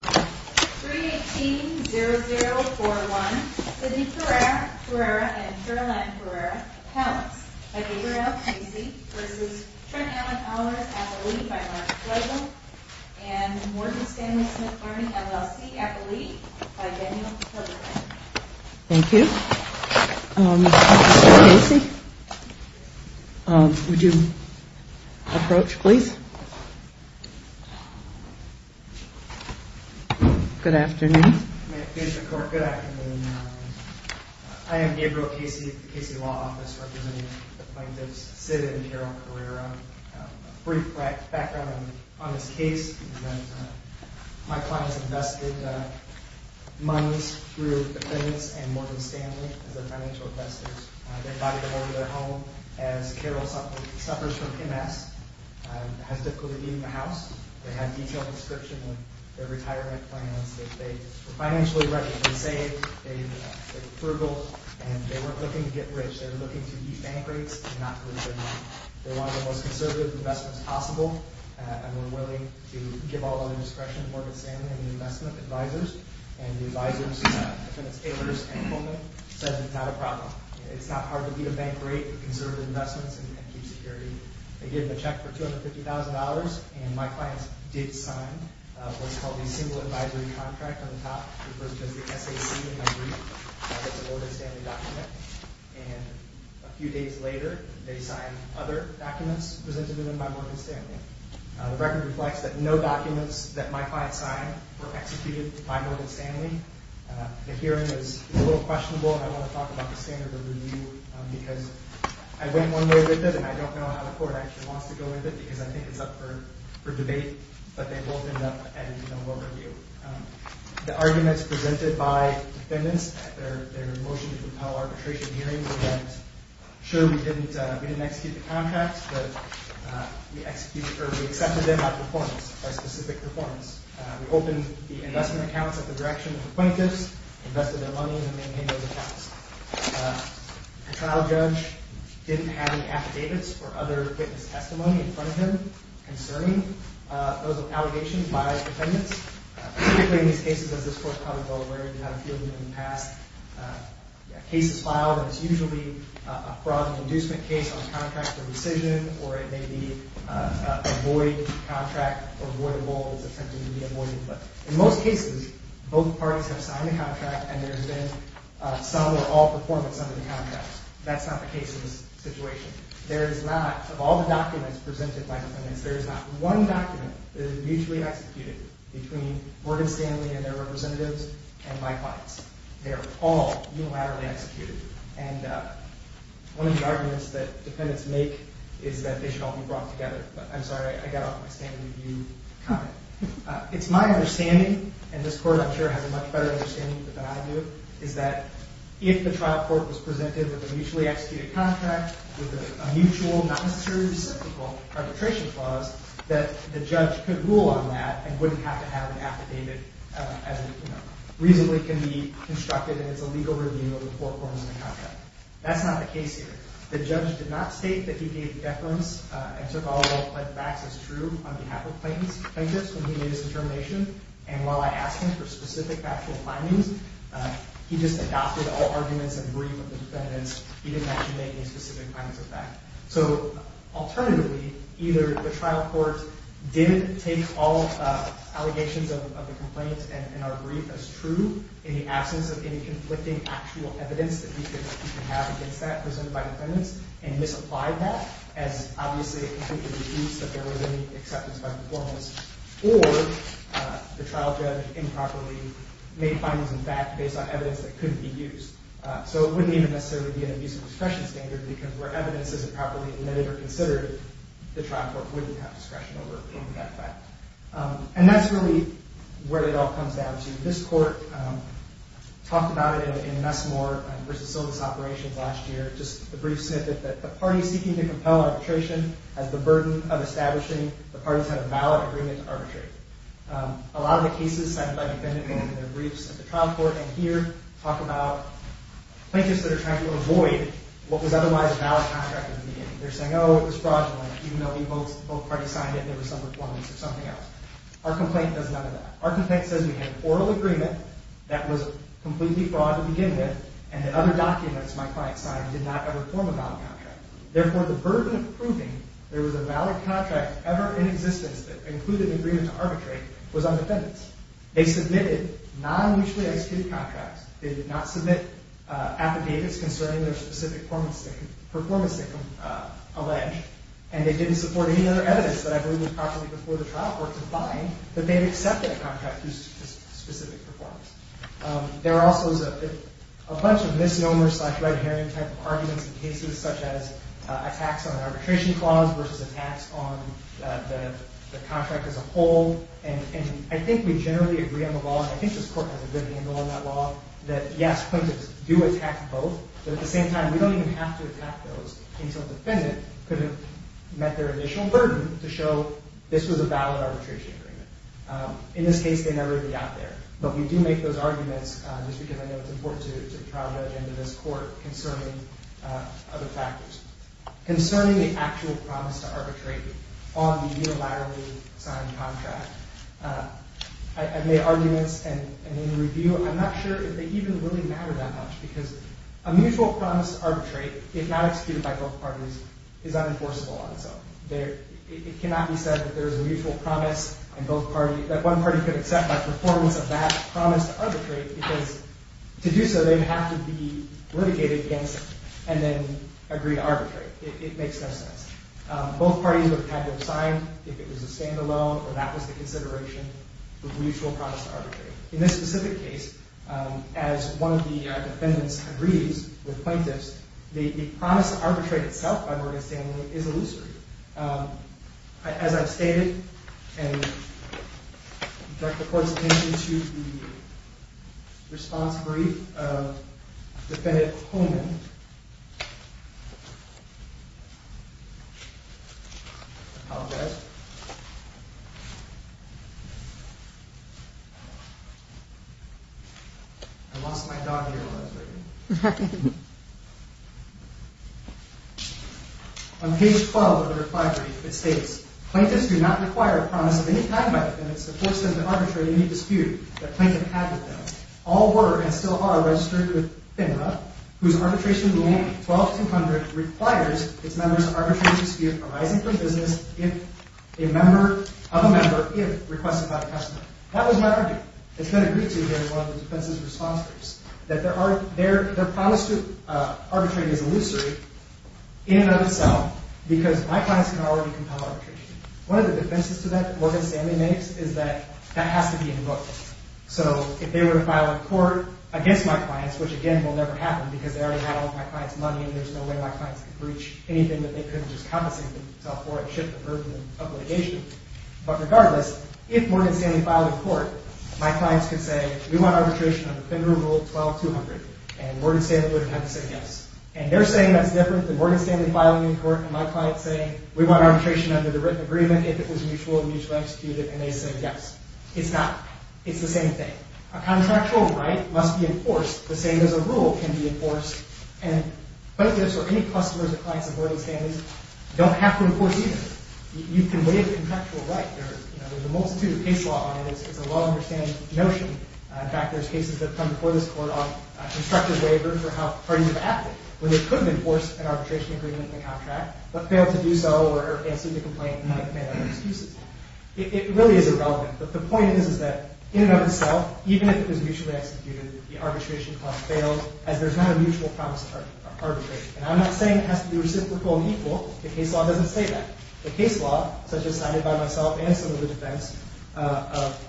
318-0041 Sidney Ferreira and Caroline Ferreira, accounts by Gabriel Casey v. Trent Allen Owlers, Appellee by Mark Flegel and Morgan Stanley Smith Barney, LLC, Appellee by Daniel Flegelman Thank you. Casey, would you approach please? Good afternoon. Mr. Court, good afternoon. I am Gabriel Casey with the Casey Law Office representing the plaintiffs Sidney and Caroline Ferreira. A brief background on this case is that my client has invested monies through defendants and Morgan Stanley as their financial investors. They provided them over their home as Carol suffers from MS and has difficulty leaving the house. They had detailed description of their retirement plans. They were financially ready to save. They were frugal and they weren't looking to get rich. They were looking to defank rates and not lose their money. They wanted the most conservative investments possible and were willing to give all their discretion to Morgan Stanley and the investment advisors. The advisors, defendants Taylor and Coleman, said it's not a problem. It's not hard to beat a bank rate with conservative investments and keep security. They gave them a check for $250,000 and my client did sign what's called a single advisory contract on the top. It was just the SAC and a brief that was a Morgan Stanley document. A few days later, they signed other documents presented to them by Morgan Stanley. The record reflects that no documents that my client signed were executed by Morgan Stanley. The hearing is a little questionable and I want to talk about the standard of review because I went one day with it and I don't know how the court actually wants to go with it because I think it's up for debate, but they both end up at a general overview. The arguments presented by defendants at their motion to propel arbitration hearings were that, sure, we didn't execute the contracts, but we accepted them by performance, by specific performance. We opened the investment accounts at the direction of the plaintiffs, invested their money, and then made those accounts. The trial judge didn't have any affidavits or other witness testimony in front of him concerning those allegations by defendants. Typically in these cases, as this court probably well aware, we've had a few of them in the past. A case is filed and it's usually a fraud and inducement case on contract for rescission or it may be a void contract or voidable that's attempting to be avoided. But in most cases, both parties have signed the contract and there's been some or all performance under the contract. That's not the case in this situation. There is not, of all the documents presented by defendants, there is not one document that is mutually executed between Morgan Stanley and their representatives and my clients. They are all unilaterally executed. And one of the arguments that defendants make is that they should all be brought together. I'm sorry, I got off my standard of view comment. It's my understanding, and this court I'm sure has a much better understanding than I do, is that if the trial court was presented with a mutually executed contract with a mutual, not necessarily reciprocal, arbitration clause, that the judge could rule on that and wouldn't have to have an affidavit as reasonably can be constructed and it's a legal review of the four forms of the contract. That's not the case here. The judge did not state that he gave deference and took all the facts as true on behalf of plaintiffs when he made his determination. And while I asked him for specific actual findings, he just adopted all arguments and brief of the defendants. He didn't actually make any specific findings of that. So, alternatively, either the trial court didn't take all allegations of the complaints and our brief as true in the absence of any conflicting actual evidence that we could have against that presented by defendants and misapplied that as, obviously, it completely deduced that there was any acceptance by performance, or the trial judge improperly made findings in fact based on evidence that couldn't be used. So it wouldn't even necessarily be an abuse of discretion standard because where evidence isn't properly admitted or considered, the trial court wouldn't have discretion over that fact. And that's really where it all comes down to. This court talked about it in Nesmore v. Silva's operations last year, just a brief snippet that the party seeking to compel arbitration has the burden of establishing the parties have a valid agreement to arbitrate. A lot of the cases signed by defendants in their briefs at the trial court, and here talk about plaintiffs that are trying to avoid what was otherwise a valid contract in the beginning. They're saying, oh, it was fraudulent even though both parties signed it and there was some performance or something else. Our complaint does none of that. Our complaint says we had an oral agreement that was completely fraud to begin with and that other documents my client signed did not ever form a valid contract. Therefore, the burden of proving there was a valid contract ever in existence that included an agreement to arbitrate was on defendants. They submitted non-mutually executed contracts. They did not submit affidavits concerning their specific performance that can allege, and they didn't support any other evidence that I believe was properly before the trial court to find that they had accepted a contract due to specific performance. There are also a bunch of misnomers slash red herring type of arguments in cases, such as attacks on an arbitration clause versus attacks on the contract as a whole. I think we generally agree on the law, and I think this court has a good handle on that law, that yes, plaintiffs do attack both, but at the same time, we don't even have to attack those until a defendant could have met their initial burden to show this was a valid arbitration agreement. In this case, they never really got there, but we do make those arguments just because I know it's important to the trial judge and to this court concerning other factors. Concerning the actual promise to arbitrate on the unilaterally signed contract, I've made arguments, and in review, I'm not sure if they even really matter that much, because a mutual promise to arbitrate, if not executed by both parties, is unenforceable on its own. It cannot be said that there is a mutual promise that one party could accept by performance of that promise to arbitrate, because to do so, they have to be litigated against and then agree to arbitrate. It makes no sense. Both parties would have had to have signed if it was a standalone or that was the consideration of mutual promise to arbitrate. In this specific case, as one of the defendants agrees with plaintiffs, the promise to arbitrate itself, by Morgan Stanley, is illusory. As I've stated, and I direct the court's attention to the response brief of Defendant Holman. I apologize. I lost my dog here while I was writing. On page 12 of the reply brief, it states, Plaintiffs do not require a promise of any kind by defendants to force them to arbitrate any dispute that plaintiff had with them. All were, and still are, registered with FINRA, whose arbitration rule, 12-200, requires its members to arbitrate a dispute arising from business of a member if requested by the customer. That was my argument. It's been agreed to here in one of the defense's response briefs, that their promise to arbitrate is illusory in and of itself, because my clients can already compel arbitration. One of the defenses to that that Morgan Stanley makes is that that has to be invoked. So if they were to file a court against my clients, which again will never happen because they already had all of my client's money and there's no way my clients could breach anything that they couldn't just compensate themselves for and shift the burden of litigation. But regardless, if Morgan Stanley filed a court, my clients could say, we want arbitration under FINRA rule 12-200, and Morgan Stanley would have to say yes. And they're saying that's different than Morgan Stanley filing a court, and my client saying, we want arbitration under the written agreement, if it was mutual and mutually executed, and they say yes. It's not. It's the same thing. A contractual right must be enforced, the same as a rule can be enforced, and plaintiffs or any customers or clients of Morgan Stanley's don't have to enforce either. You can waive a contractual right. There's a multitude of case law on it. It's a well-understood notion. In fact, there's cases that come before this court on constructive waiver for how parties have acted when they couldn't enforce an arbitration agreement in the contract but failed to do so or answered the complaint and had to make other excuses. It really is irrelevant. But the point is that in and of itself, even if it was mutually executed, the arbitration clause failed as there's not a mutual promise of arbitration. And I'm not saying it has to be reciprocal and equal. The case law doesn't say that. The case law, such as cited by myself and some of the defense, of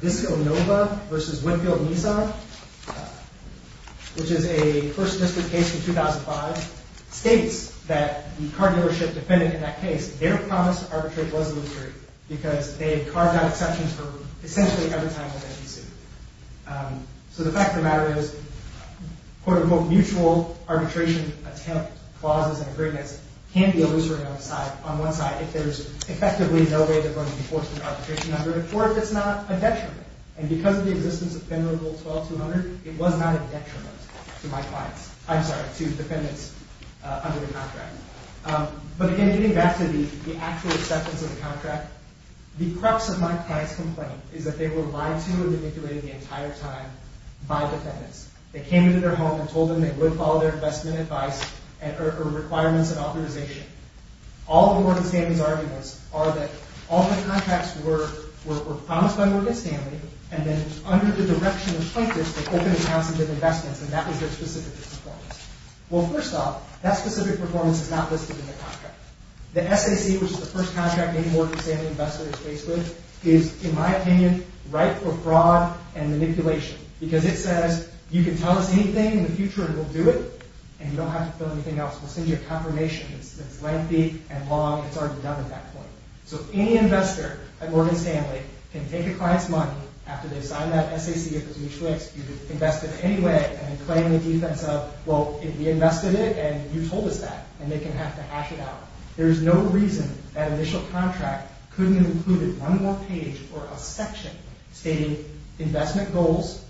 Visco Nova v. Winfield Nisar, which is a First District case from 2005, states that the car dealership defendant in that case, their promise to arbitrate was illusory because they had carved out exceptions for essentially every time that they had sued. So the fact of the matter is, quote, unquote, mutual arbitration attempt clauses and agreements can be illusory on one side if there's effectively no way they're going to enforce an arbitration agreement or if it's not a detriment. And because of the existence of Federal Rule 12-200, it was not a detriment to my clients. I'm sorry, to defendants under the contract. But again, getting back to the actual acceptance of the contract, the crux of my client's complaint is that they were lied to and manipulated the entire time by defendants. They came into their home and told them they would follow their investment advice or requirements and authorization. All of Morgan Stanley's arguments are that all the contracts were promised by Morgan Stanley and then under the direction of plaintiffs, they opened accounts and did investments, and that was their specific performance. Well, first off, that specific performance is not listed in the contract. The SAC, which is the first contract any Morgan Stanley investor is faced with, is, in my opinion, ripe for fraud and manipulation because it says, you can tell us anything in the future and we'll do it, and you don't have to fill anything else. We'll send you a confirmation that's lengthy and long, and it's already done at that point. So any investor at Morgan Stanley can take a client's money, after they've signed that SAC, if it's mutual ex, you can invest it anyway and claim the defense of, well, we invested it and you told us that, and they can have to hash it out. There's no reason that initial contract couldn't have included one more page or a section stating investment goals,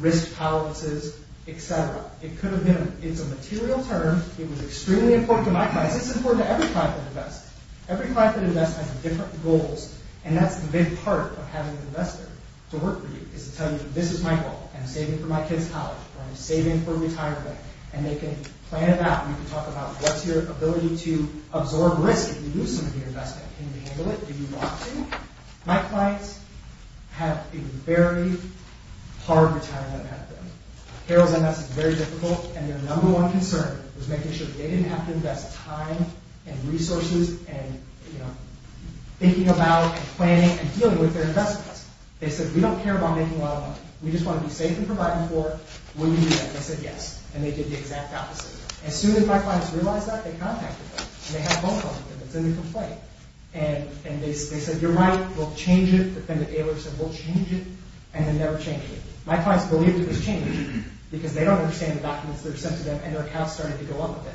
risk policies, etc. It could have been, it's a material term, it was extremely important to my clients, it's important to every client that invests. Every client that invests has different goals, and that's the big part of having an investor to work for you, is to tell you, this is my goal, I'm saving for my kids' college, or I'm saving for retirement, and they can plan it out, and you can talk about what's your ability to absorb risk if you lose some of your investment, can you handle it, My clients have a very hard retirement method. Carol's MS is very difficult, and their number one concern was making sure that they didn't have to invest time and resources and thinking about and planning and dealing with their investments. They said, we don't care about making a lot of money, we just want to be safe in providing for it, will you do that? They said yes, and they did the exact opposite. As soon as my clients realized that, they contacted me, and they have a phone call with them, it's in the complaint, and they said, you're right, we'll change it, the defendant-tailor said, we'll change it, and they never changed it. My clients believed it was changed, because they don't understand the documents that are sent to them, and their accounts started to go up a bit.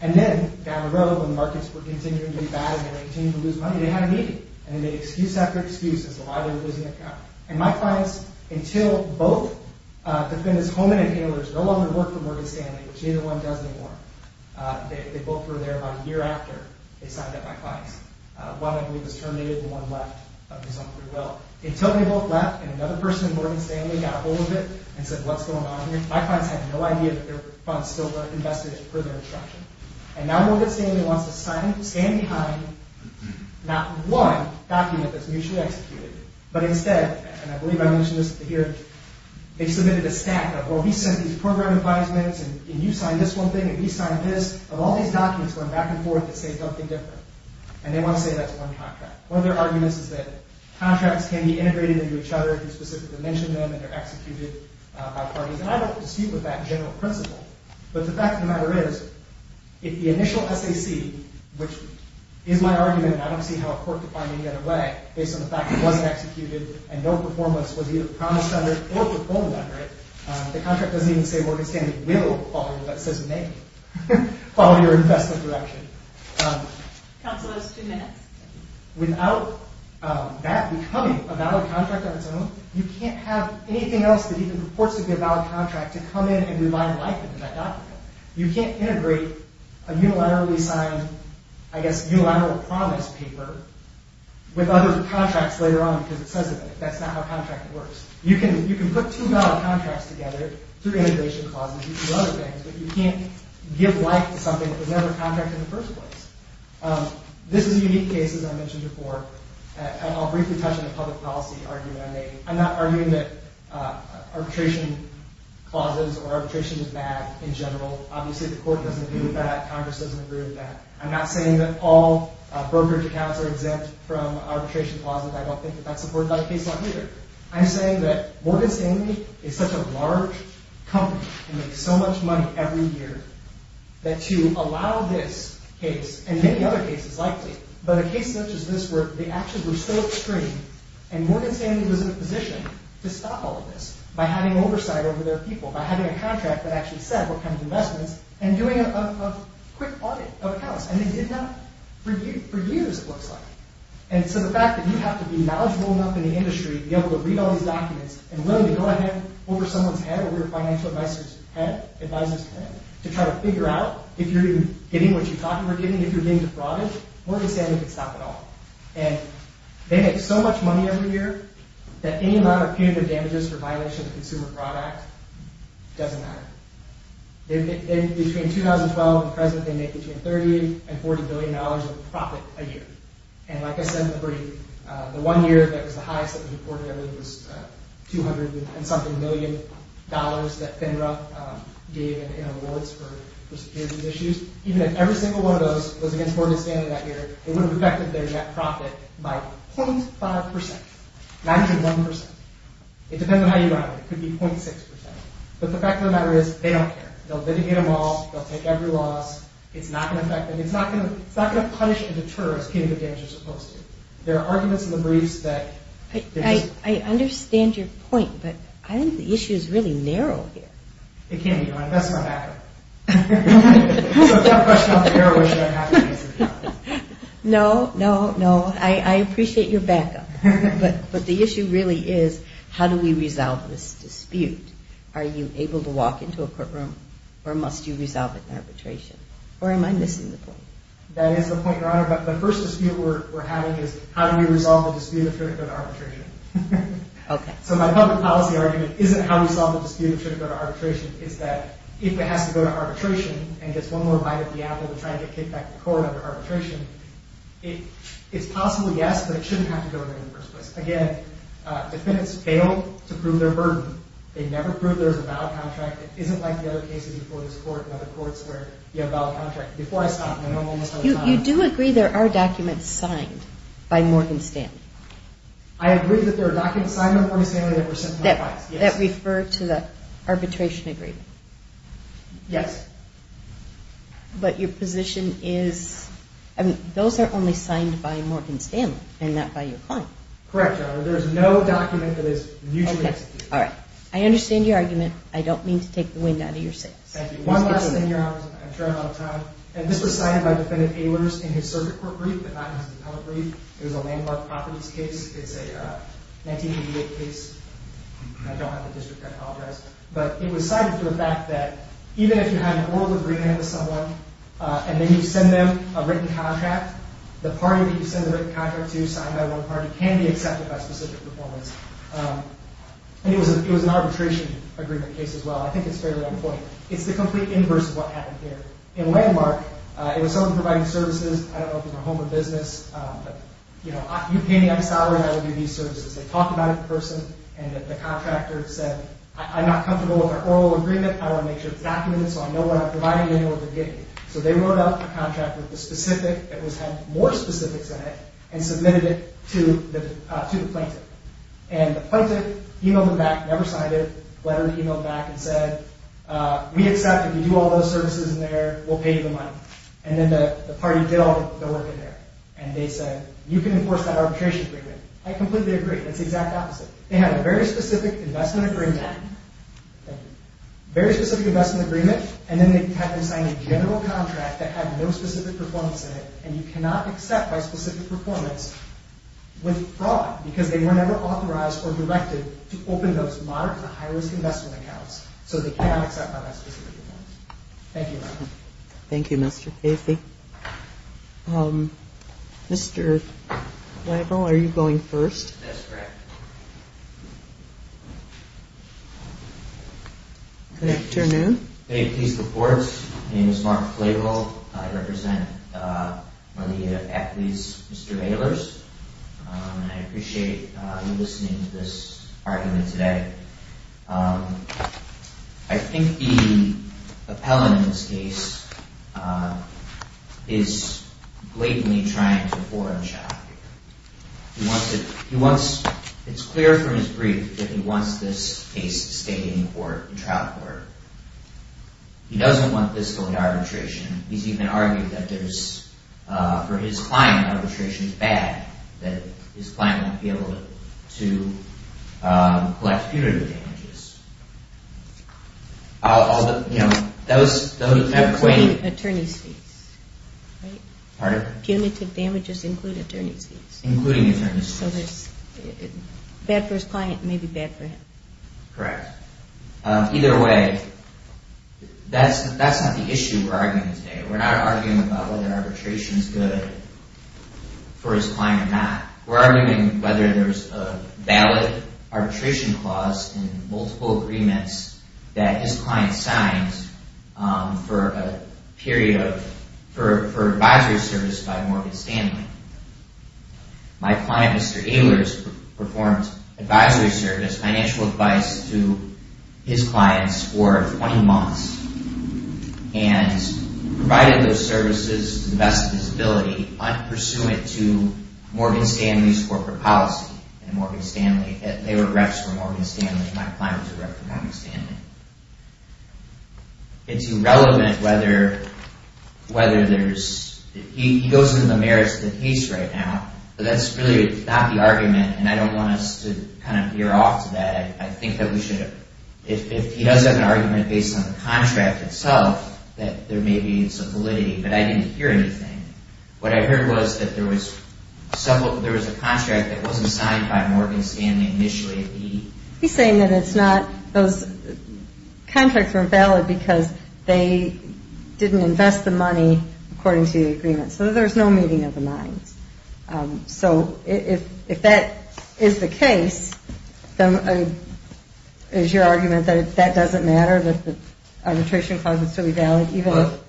And then, down the road, when markets were continuing to be bad, and they were continuing to lose money, they had a meeting, and they made excuse after excuse as to why they were losing their account. And my clients, until both defendants-home and tailors, no longer work for Morgan Stanley, which neither one does anymore, they both were there about a year after they signed up my clients. One, I believe, was terminated, and one left, under some free will. Until they both left, and another person in Morgan Stanley got a hold of it, and said, what's going on here? My clients had no idea that their funds still were invested in prison instruction. And now Morgan Stanley wants to stand behind not one document that's mutually executed, but instead, and I believe I mentioned this here, they submitted a stack of, well, he sent these program advisements, and you signed this one thing, and we signed this, of all these documents going back and forth that say something different. And they want to say that's one contract. One of their arguments is that contracts can be integrated into each other if you specifically mention them, and they're executed by parties. And I don't dispute with that general principle. But the fact of the matter is, if the initial SAC, which is my argument, and I don't see how a court could find any other way, based on the fact it wasn't executed, and no performance was either promised under it it will follow your investment direction. Counselors, two minutes. Without that becoming a valid contract on its own, you can't have anything else that even purports to be a valid contract to come in and revive life into that document. You can't integrate a unilaterally signed, I guess, unilateral promise paper with other contracts later on because it says it. That's not how contracting works. You can put two valid contracts together through integration clauses and through other things, but you can't give life to something that was never contracted in the first place. This is a unique case, as I mentioned before, and I'll briefly touch on the public policy argument I made. I'm not arguing that arbitration clauses or arbitration is bad in general. Obviously, the court doesn't agree with that. Congress doesn't agree with that. I'm not saying that all brokerage accounts are exempt from arbitration clauses. I don't think that that's supported by the case law either. I'm saying that Morgan Stanley is such a large company that makes so much money every year that to allow this case, and many other cases likely, but a case such as this, where the actions were still extreme, and Morgan Stanley was in a position to stop all of this by having oversight over their people, by having a contract that actually said what kind of investments, and doing a quick audit of accounts, and it did not. For years, it looks like. And so the fact that you have to be knowledgeable enough in the industry to be able to read all these documents, and willing to go ahead over someone's head, over your financial advisor's head, to try to figure out if you're getting what you thought you were getting, if you're getting defrauded, Morgan Stanley can stop it all. And they make so much money every year that any amount of punitive damages for violation of the Consumer Fraud Act doesn't matter. Between 2012 and present, they make between $30 and $40 billion of profit a year. And like I said in the brief, the one year that was the highest that we reported, I believe it was $200 and something million that FINRA gave in awards for securing these issues. Even if every single one of those was against Morgan Stanley that year, it would have affected their net profit by 0.5%, not even 1%. It depends on how you run it. It could be 0.6%. But the fact of the matter is, they don't care. They'll litigate them all. They'll take every loss. It's not going to affect them. It's not going to punish or deter as punitive damages are supposed to. There are arguments in the briefs that... I understand your point, but I think the issue is really narrow here. It can be. That's not accurate. So if you have a question on the narrow issue, I'm happy to answer it. No, no, no. I appreciate your backup. But the issue really is, how do we resolve this dispute? Are you able to walk into a courtroom or must you resolve it in arbitration? Or am I missing the point? That is the point, Your Honor. But the first dispute we're having is, how do we resolve the dispute if it should go to arbitration? Okay. So my public policy argument isn't how we solve the dispute if it should go to arbitration. It's that if it has to go to arbitration and gets one more bite at the apple to try to get kicked back to court under arbitration, it's possible, yes, but it shouldn't have to go there in the first place. Again, defendants failed to prove their burden. They never proved there was a valid contract. It isn't like the other cases before this court and other courts where you have a valid contract. Before I stop, I know I'm almost out of time. You do agree there are documents signed by Morgan Stanley? I agree that there are documents signed by Morgan Stanley that were sent to my clients, yes. That refer to the arbitration agreement? Yes. But your position is, I mean, those are only signed by Morgan Stanley and not by your client. There is no document that is mutually exclusive. Okay, all right. I understand your argument. I don't mean to take the wind out of your sails. Thank you. One last thing, Your Honor. I'm sure I'm out of time. This was cited by Defendant Ehlers in his circuit court brief, but not in his appellate brief. It was a landmark properties case. It's a 1988 case. I don't have the district. I apologize. But it was cited for the fact that even if you have an oral agreement with someone and then you send them a written contract, the party that you send the written contract to, signed by one party, can be accepted by specific performance. And it was an arbitration agreement case as well. I think it's fairly on point. It's the complete inverse of what happened here. In Landmark, it was someone providing services, I don't know if it was a home or business, but, you know, you pay me, I'm salaried, I will give you services. They talked about it to the person, and the contractor said, I'm not comfortable with our oral agreement, I want to make sure it's documented so I know what I'm providing and what they're getting. So they wrote out the contract with the specific, it had more specifics in it, and submitted it to the plaintiff. And the plaintiff emailed them back, never signed it, lettered, emailed back, and said, we accept it, we do all those services in there, we'll pay you the money. And then the party did all the work in there. And they said, you can enforce that arbitration agreement. I completely agree, it's the exact opposite. They had a very specific investment agreement, very specific investment agreement, and then they had to sign a general contract that had no specific performance in it, and you cannot accept by specific performance with fraud, because they were never authorized or directed to open those moderate to high-risk investment accounts, so they cannot accept by that specific performance. Thank you. Thank you, Mr. Casey. Mr. Flavel, are you going first? That's correct. Good afternoon. Thank you. My name is Mark Flavel, I represent one of the affilies, Mr. Baylor's, and I appreciate you listening to this argument today. I think the appellant in this case is blatantly trying to foreign shop. It's clear from his brief that he wants this case to stay in court, in trial court. He doesn't want this going to arbitration. He's even argued that there's, for his client, arbitration is bad, that his client won't be able to collect punitive damages. All the, you know, those... Attorneys' fees, right? Pardon? Punitive damages include attorney's fees. Including attorney's fees. So there's... Bad for his client, maybe bad for him. Correct. Either way, that's not the issue we're arguing today. We're not arguing about whether arbitration is good for his client or not. We're arguing whether there's a valid arbitration clause in multiple agreements that his client signs for a period of... for advisory service by Morgan Stanley. My client, Mr. Baylor's, performs advisory service, financial advice to his clients for 20 months, and provided those services to the best of his ability, pursuant to Morgan Stanley's corporate policy, and Morgan Stanley... They were reps for Morgan Stanley. My client was a rep for Morgan Stanley. It's irrelevant whether there's... He goes into the merits of the case right now, but that's really not the argument, and I don't want us to kind of veer off to that. I think that we should... If he does have an argument based on the contract itself, that there may be some validity, but I didn't hear anything. What I heard was that there was... There was a contract that wasn't signed by Morgan Stanley initially. He's saying that it's not... Those contracts weren't valid because they didn't invest the money according to the agreement, so there's no meeting of the minds. So if that is the case, is your argument that that doesn't matter, that the arbitration clause would still be valid even if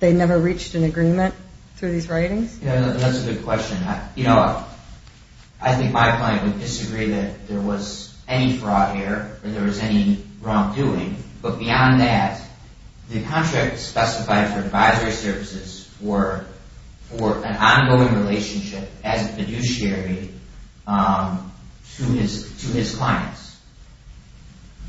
they never reached an agreement through these writings? Yeah, that's a good question. You know, I think my client would disagree that there was any fraud here, or there was any wrongdoing, but beyond that, the contract specified for advisory services were an ongoing relationship as a fiduciary to his clients.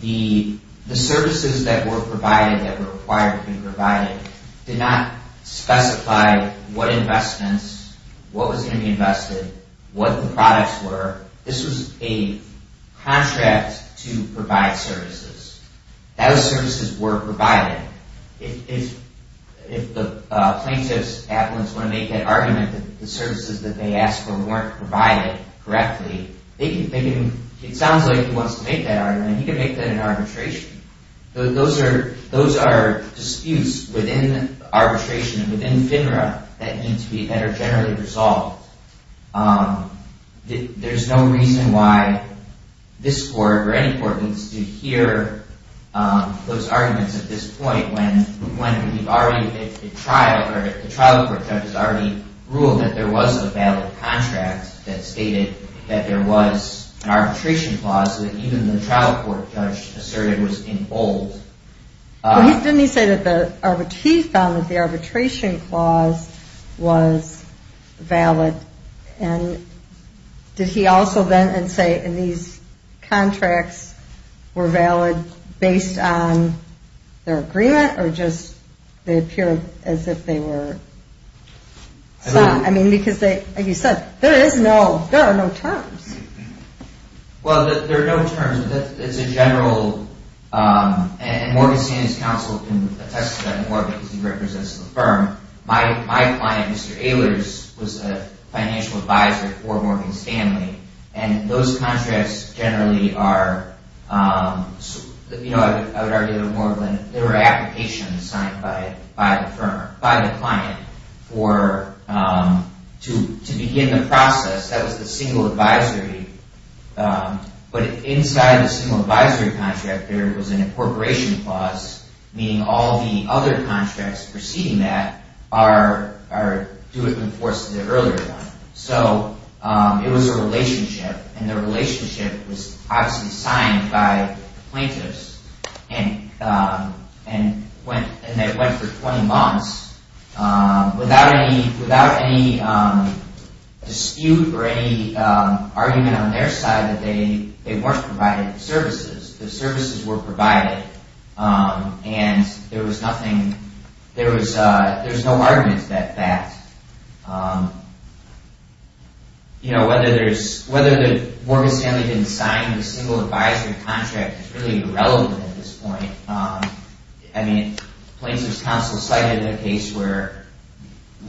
The services that were provided, that were required to be provided, did not specify what investments, what was going to be invested, what the products were. This was a contract to provide services. Those services were provided. If the plaintiff's applicants want to make that argument that the services that they asked for weren't provided correctly, it sounds like he wants to make that argument, and he can make that in arbitration. Those are disputes within arbitration, within FINRA, that are generally resolved. There's no reason why this court, or any court, needs to hear those arguments at this point when the trial court judge has already ruled that there was a valid contract that stated that there was an arbitration clause that even the trial court judge asserted was in bold. Didn't he say that he found that the arbitration clause was valid, and did he also then say, and these contracts were valid based on their agreement, or just they appear as if they were... I mean, because, like you said, there are no terms. Well, there are no terms. It's a general... And Morgan Stanley's counsel can attest to that more because he represents the firm. My client, Mr. Ehlers, was a financial advisor for Morgan Stanley, and those contracts generally are... I would argue that more than... signed by the client to begin the process. That was the single advisory, but inside the single advisory contract, there was an incorporation clause, meaning all the other contracts preceding that are due to enforce the earlier one. So it was a relationship, and the relationship was obviously signed by plaintiffs, and they went for 20 months without any dispute or any argument on their side that they weren't providing services. The services were provided, and there was nothing... There was no argument that that... Whether Morgan Stanley didn't sign the single advisory contract is really irrelevant at this point. I mean, plaintiffs' counsel cited a case where...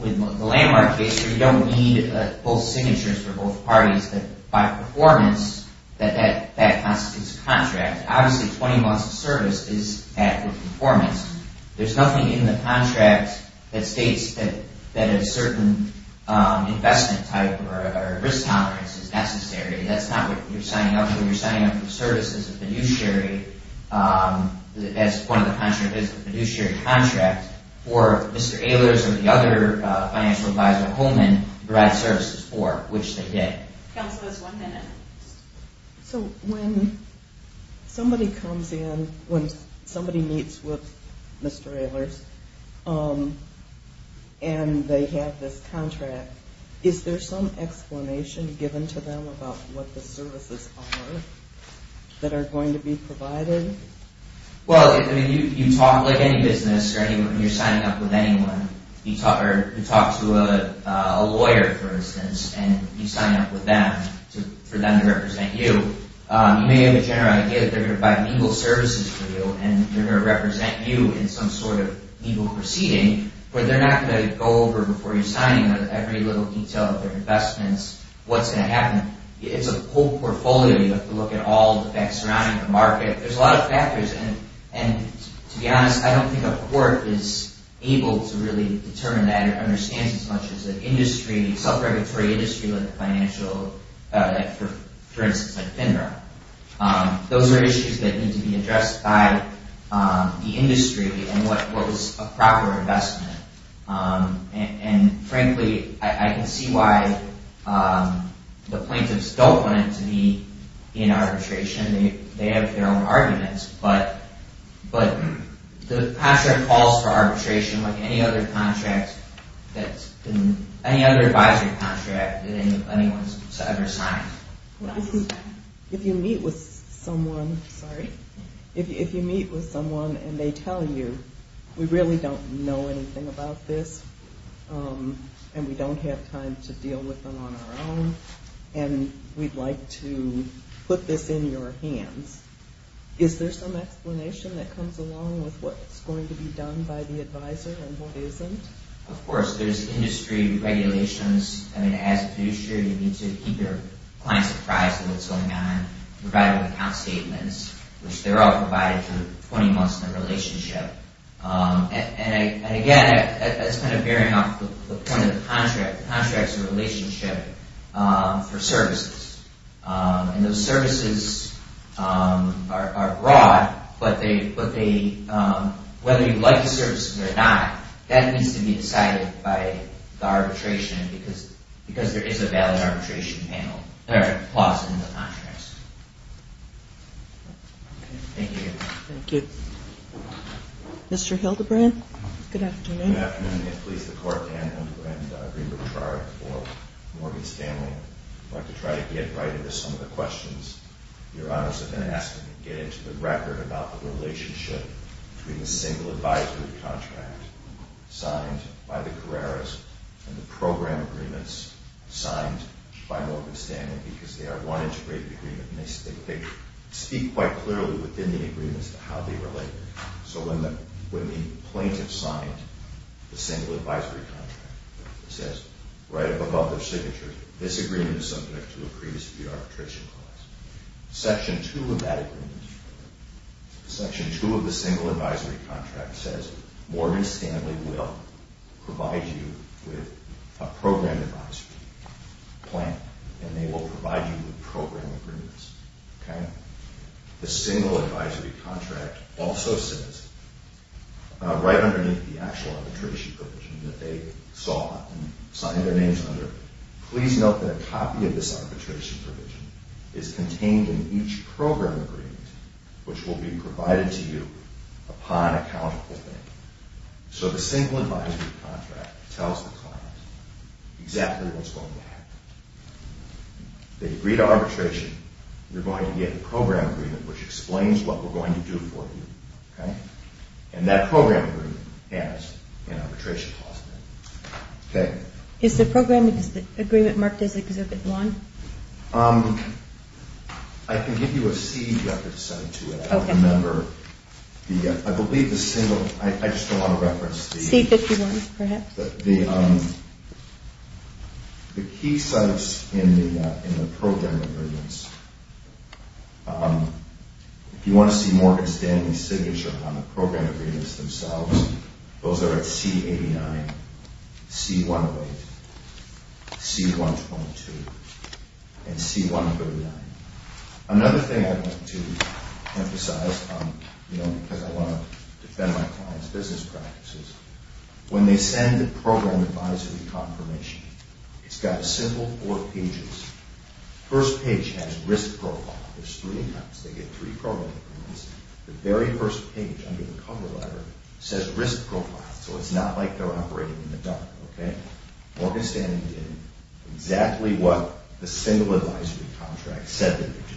The Landmark case where you don't need both signatures for both parties, but by performance, that constitutes a contract. Obviously, 20 months of service is bad for performance. There's nothing in the contract that states that a certain investment type or risk tolerance is necessary. That's not what you're signing up for. You're signing up for services of fiduciary as part of the fiduciary contract for Mr. Ehlers or the other financial advisor, Holman, to provide services for, which they did. Counsel, there's one minute. So when somebody comes in, when somebody meets with Mr. Ehlers, and they have this contract, is there some explanation given to them about what the services are that are going to be provided? Well, you talk, like any business, when you're signing up with anyone, you talk to a lawyer, for instance, and you sign up with them for them to represent you. You may have a general idea that they're going to provide legal services for you, and they're going to represent you in some sort of legal proceeding, but they're not going to go over before you're signing every little detail of their investments what's going to happen. It's a whole portfolio. You have to look at all the facts surrounding the market. There's a lot of factors, and to be honest, I don't think a court is able to really determine that or understand it as much as an industry, self-regulatory industry like the financial, for instance, like FINRA. Those are issues that need to be addressed by the industry and what is a proper investment. And frankly, I can see why the plaintiffs don't want it to be in arbitration. They have their own arguments, but Patrick calls for arbitration like any other advisory contract that anyone's ever signed. If you meet with someone, sorry, if you meet with someone and they tell you, we really don't know anything about this and we don't have time to deal with them on our own and we'd like to put this in your hands, is there some explanation that comes along with what's going to be done by the advisor and what isn't? Of course. There's industry regulations. I mean, as a fiduciary, you need to keep your clients apprised of what's going on, provide account statements, which they're all provided for 20 months in the relationship. And again, that's kind of bearing off the point of the contract. The contract's a relationship for services. And those services are broad, but whether you like the services or not, that needs to be decided by the arbitration because there is a valid arbitration panel or clause in the contracts. Thank you. Thank you. Mr. Hildebrand? Good afternoon. Good afternoon. It pleases the Court, Dan Hildebrand, to agree with the charge for Morgan Stanley. I'd like to try to get right into some of the questions Your Honors have been asking and get into the record about the relationship between the single advisory contract signed by the Carreras and the program agreements signed by Morgan Stanley because they are one integrated agreement and they speak quite clearly within the agreement as to how they relate. So when the plaintiff signed the single advisory contract, it says right up above their signature, this agreement is subject to a previous arbitration clause. Section 2 of that agreement, Section 2 of the single advisory contract says Morgan Stanley will provide you with a program advisory plan and they will provide you with program agreements. Okay? The single advisory contract also says, right underneath the actual arbitration provision that they saw and signed their names under, please note that a copy of this arbitration provision is contained in each program agreement which will be provided to you upon accountable payment. So the single advisory contract tells the client exactly what's going to happen. If they agree to arbitration, you're going to get a program agreement which explains what we're going to do for you. Okay? And that program agreement has an arbitration clause in it. Okay? Is the program agreement marked as Exhibit 1? Um... I can give you a C, Dr. DeSoto, to remember the... I believe the single... I just don't want to reference the... C-51, perhaps? But the, um... the key sites in the program agreements, um... if you want to see Morgan Stanley's signature on the program agreements themselves, those are at C-89, C-108, C-122, and C-139. Another thing I want to emphasize, you know, because I want to defend my client's business practices, when they send the program advisory confirmation, it's got a simple four pages. First page has risk profile. It's three times. They get three program agreements. The very first page under the cover letter says risk profile, so it's not like they're operating in the dark. Okay? Morgan Stanley did exactly what the single advisory contract said they would do.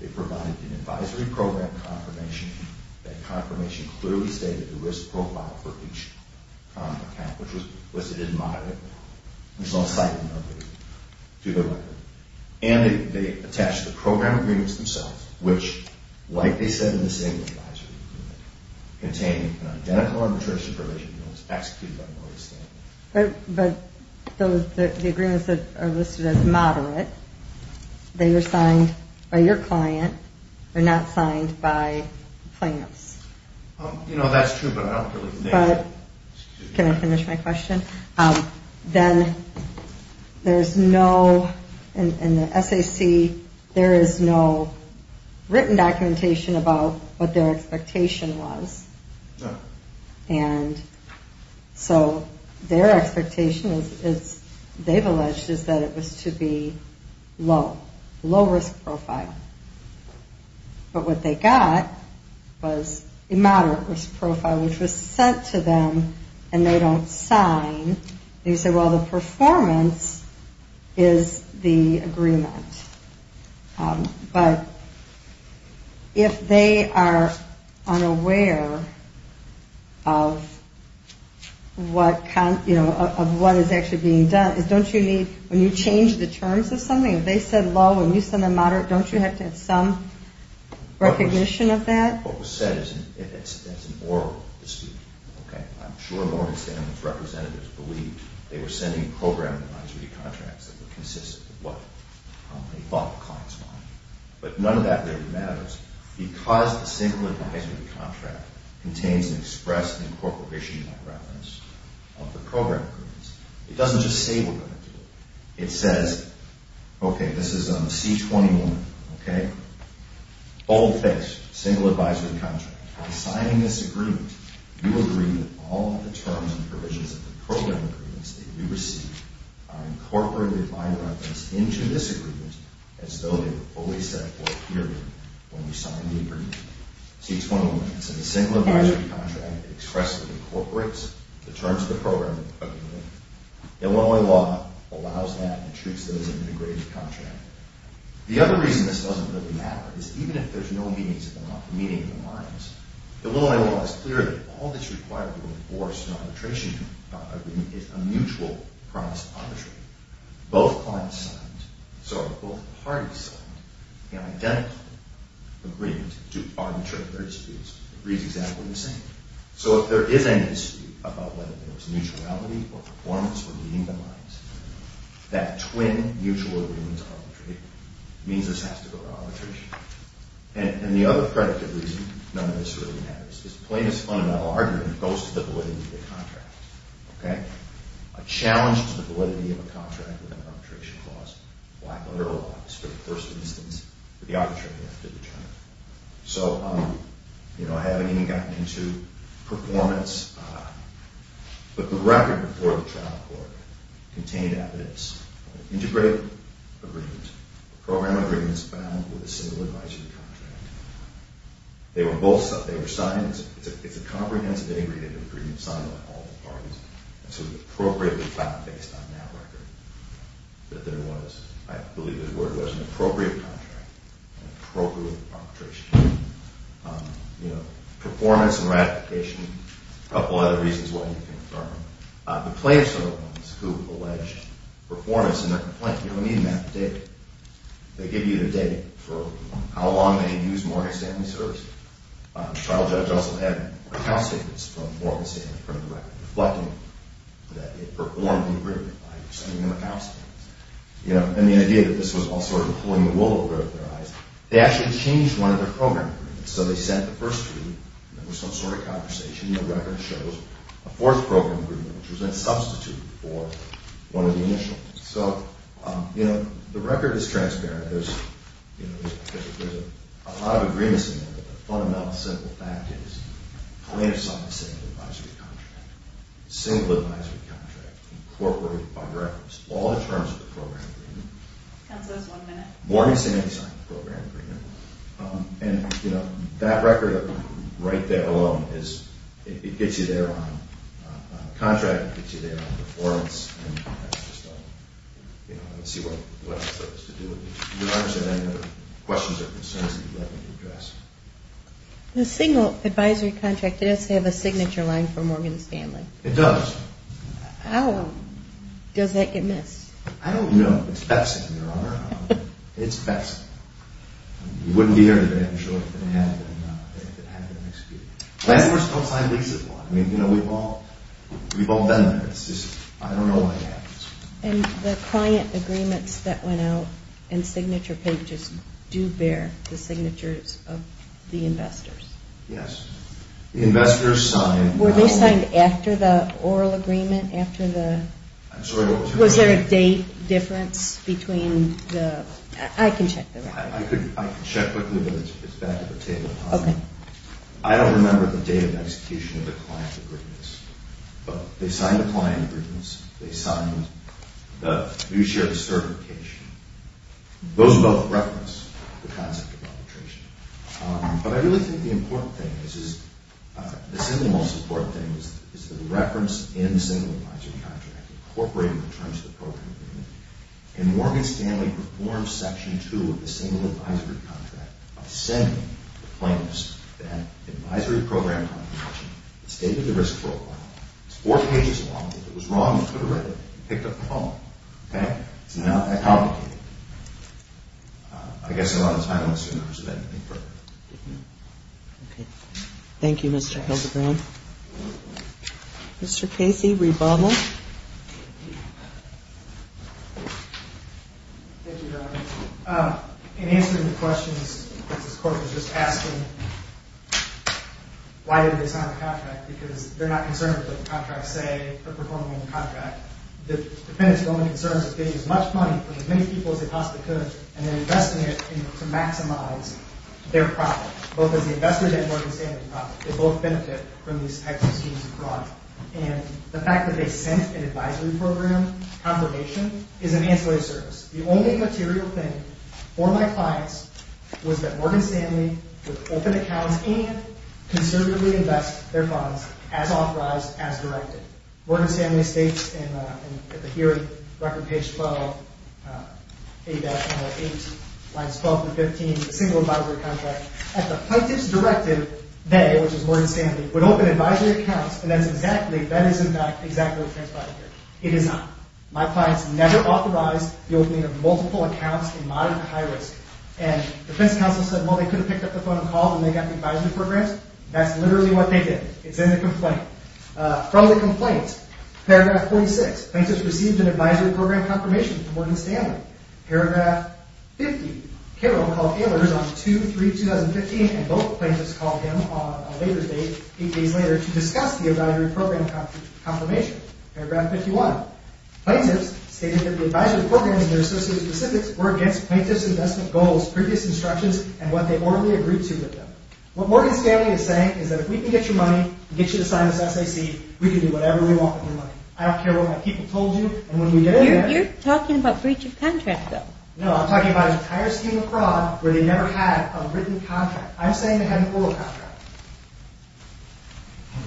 They provided an advisory program confirmation. That confirmation clearly stated the risk profile for each contract, which was listed in moderate. There's no citing of it to the record. And they attached the program agreements themselves, which, like they said in the single advisory agreement, contained an identical arbitration provision that was executed by Morgan Stanley. But those, the agreements that are listed as moderate, they were signed by your client. They're not signed by plants. You know, that's true, but can I finish my question? Then there's no, in the SAC, there is no written documentation about what their expectation was. And so their expectation is, they've alleged, is that it was to be low, low risk profile. But what they got was a moderate risk profile, which was sent to them, and they don't sign. And you say, well, the performance is the agreement. But if they are unaware of what, you know, of what is actually being done, don't you need, when you change the terms of something, if they said low and you said a moderate, don't you have to have some recognition of that? What was said is an oral dispute. Okay? I'm sure Morgan Stanley's representatives believed they were sending program advisory contracts that were consistent with what they thought the clients wanted. But none of that really matters because the single advisory contract contains an express incorporation reference of the program agreements. It doesn't just say we're going to do it. It says, okay, this is a C21, okay? Boldface, single advisory contract. By signing this agreement, you agree that all the terms and provisions of the program agreements that you receive are incorporated by reference into this agreement as though they were fully set for a period when you signed the agreement. C21. So the single advisory contract expressly incorporates the terms of the program agreement. Illinois law allows that and treats those as an integrated contract. The other reason this doesn't really matter is even if there's no meetings at the law meeting at the lines, Illinois law is clear that all that's required to enforce an arbitration agreement is a mutual promise of arbitration. Both clients signed, so both parties signed an identical agreement to arbitrate their disputes. It reads exactly the same. So if there is any dispute about whether there was mutuality or performance or meeting the lines, that twin mutual agreements of arbitration means this has to go to arbitration. And the other predictive reason none of this really matters is the plaintiff's fundamental argument goes to the validity of the contract. Okay? A challenge to the validity of a contract with an arbitration clause black-letter law is for the first instance for the arbitrator to determine. So, you know, I haven't even gotten into performance, but the record before the trial court contained evidence of an integrated agreement, program agreements bound with a single advisory contract. They were both, they were signed, it's a comprehensive integrated agreement signed by all the parties, and so it was appropriately found based on that record that there was, I believe it was, an appropriate contract and appropriate arbitration. You know, performance and ratification, a couple other reasons why you can confirm. The plaintiffs are the ones who allege performance in their complaint. You don't need a math or data. They give you the date for how long they had used Morgan Stanley Services. The trial judge also had account statements from Morgan Stanley in front of the record reflecting that they performed the agreement by sending them account statements. You know, and the idea that this was all sort of pulling the wool over their eyes, they actually changed one of their program agreements. So they sent the first agreement and there was some sort of conversation and the record shows a fourth program agreement which was a substitute for one of the initials. So, you know, the record is transparent. There's, you know, there's a lot of agreements in there but the fundamental simple fact is the plaintiffs signed the same advisory contract. Single advisory contract incorporated by reference. All the terms of the program agreement. Counsel, that's one minute. Morgan Stanley signed the program agreement and, you know, that record right there alone is, it gets you there on, the contract gets you there on the performance and that's just all, you know, let's see what it has to do with. Your Honor, do you have any other questions or concerns that you'd like me to address? The single advisory contract does have a signature line for Morgan Stanley. It does. How does that get missed? I don't know. It's pepsin, Your Honor. It's pepsin. You wouldn't be here today if it hadn't been executed. Plaintiffs don't sign leases a lot. I mean, you know, we've all, we've all been there. It's just, I don't know what happens. And the client agreements that went out and signature pages do bear the signatures of the investors? Yes. The investors signed Were they signed after the oral agreement? After the, I'm sorry, was there a date difference between the, I can check the record. I can check quickly but it's back at the table. Okay. I don't remember the date of execution of the client agreements. But they signed the client agreements. They signed the new share of certification. Those both reference the concept of arbitration. But I really think the important thing is, the single most important thing is the reference in the single advisory contract incorporated in terms of the program agreement. And Morgan Stanley performed Section 2 of the single advisory contract by sending the claims that advisory program that stated the risk profile. It's four pages long. If it was wrong, they could have read it and picked up the phone. Okay. It's not that complicated. I guess there wasn't time to assume there was anything further. Okay. Thank you Mr. Hildebrand. Mr. Casey Rebaba. Thank you Donna. In answering the questions this court was just asking why did they sign the contract? Because they're not concerned with what the contracts say or performing in the contract. The defendant's only concern is that they used as much money from as many people as they possibly could and they're investing it to maximize their profit. Both as the investor and Morgan Stanley profit. They both benefit from these types of schemes and the fact that they sent an advisory program confirmation is an ancillary service. The only material thing for my clients was that Morgan Stanley would open accounts and conservatively invest their funds as authorized, as directed. Morgan Stanley states in the hearing record page 12, 8-8, lines 12 to 15, single advisory contract, at the plaintiff's directive, they, which is Morgan Stanley, would open advisory accounts and that is exactly what transpired here. It is not. My clients never authorized the opening of multiple accounts in moderate to high risk and the defense counsel said well they could have picked up the phone and called when they got the call. they did not have the advisory programs, that's literally what they did. It's in the complaint. From the complaint, paragraph 46, plaintiff received an advisory program confirmation from Morgan Stanley, paragraph 50, Carol called Ehlers on 2, 3, 2015, and both plaintiffs called him on a later date, eight days later, to discuss the advisory program confirmation, paragraph 51. Plaintiffs stated that the advisory programs and their associated specifics were against plaintiff's investment goals, previous instructions, and what they orderly agreed to was a written contract. I'm saying they had an oral contract.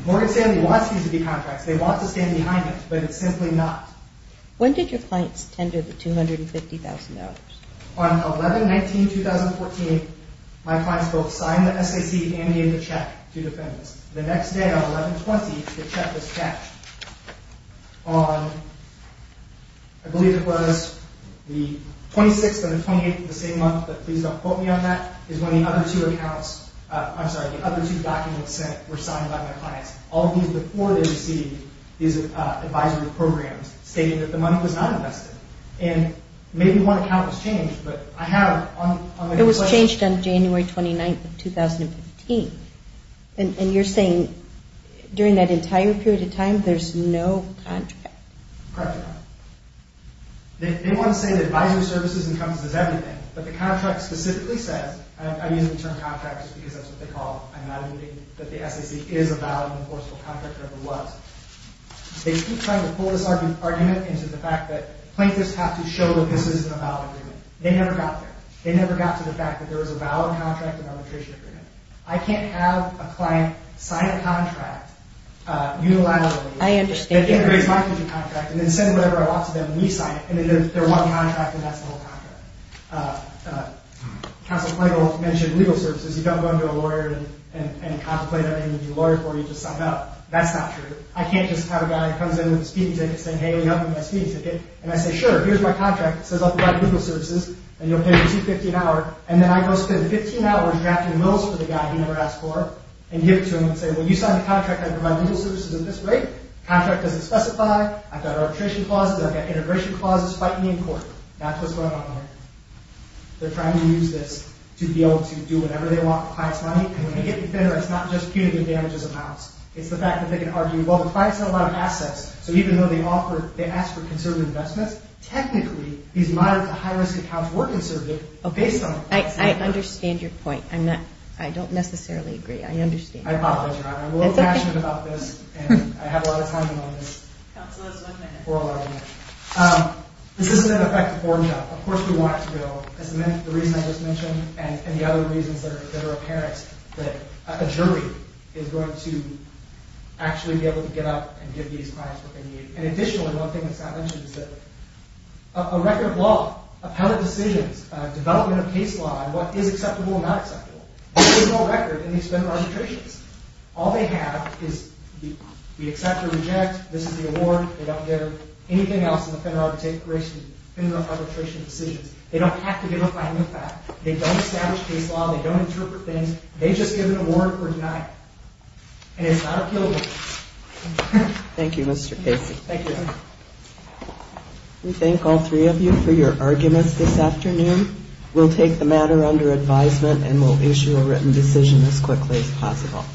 Morgan Stanley wants these to be contracts. They want to stand behind it, but it's simply not. When did your clients tender the $250,000? On 11-19, 2014, my clients both signed the SAC and gave the check to the defendants. The next day, the other two documents sent were signed by my clients. All of these before they received these advisory programs stated that the money was not invested. Maybe one account was changed. It was changed on January 29, 2015. You're saying during that entire period of time, there's no contract? Correct. They want to say that the SAC is a valid and enforceable contract. They keep trying to pull this argument into the fact that plaintiffs have to show that this is a valid agreement. They never got there. They never got to the fact that there was a valid contract and arbitration agreement. I can't have a client sign a contract unilaterally and then send whatever I want to them and we sign it and then they're one contract and that's the whole contract. Counselor Clegg will mention legal services. You don't go into a lawyer and contemplate having a lawyer for you to sign up. That's not true. I can't just have a guy come in with a speaking ticket and I say sure, here's my contract. It says I'll provide legal services and you'll pay me $15 an hour. And then I go spend $15 drafting wills for the guy he never asked for and give it to him and say well you signed a contract that provides legal services at this rate. Contract doesn't specify, I've got arbitration clauses, I've got integration clauses, fight me in court. That's what's going on here. They're trying to use this to be able to do whatever they want with clients and it's not just punitive damages amounts. It's the fact that they can argue the client has a lot of assets so even though they ask for conservative investments technically these moderate to high risk accounts were conservative based on what asking for. So I'm a little passionate about this and I have a lot of time on this for a long time. This isn't an effective form job. Of course we want it to be real. The other reasons that are apparent is that a jury is going to actually be able to get up and give these clients what they need. And additionally one thing that Scott mentioned is that a record of law of how the decisions development of case law and what the case law is is a record of what is. So the jury is going to give them a record of what the case law is. And the going to make decision as quickly as possible.????????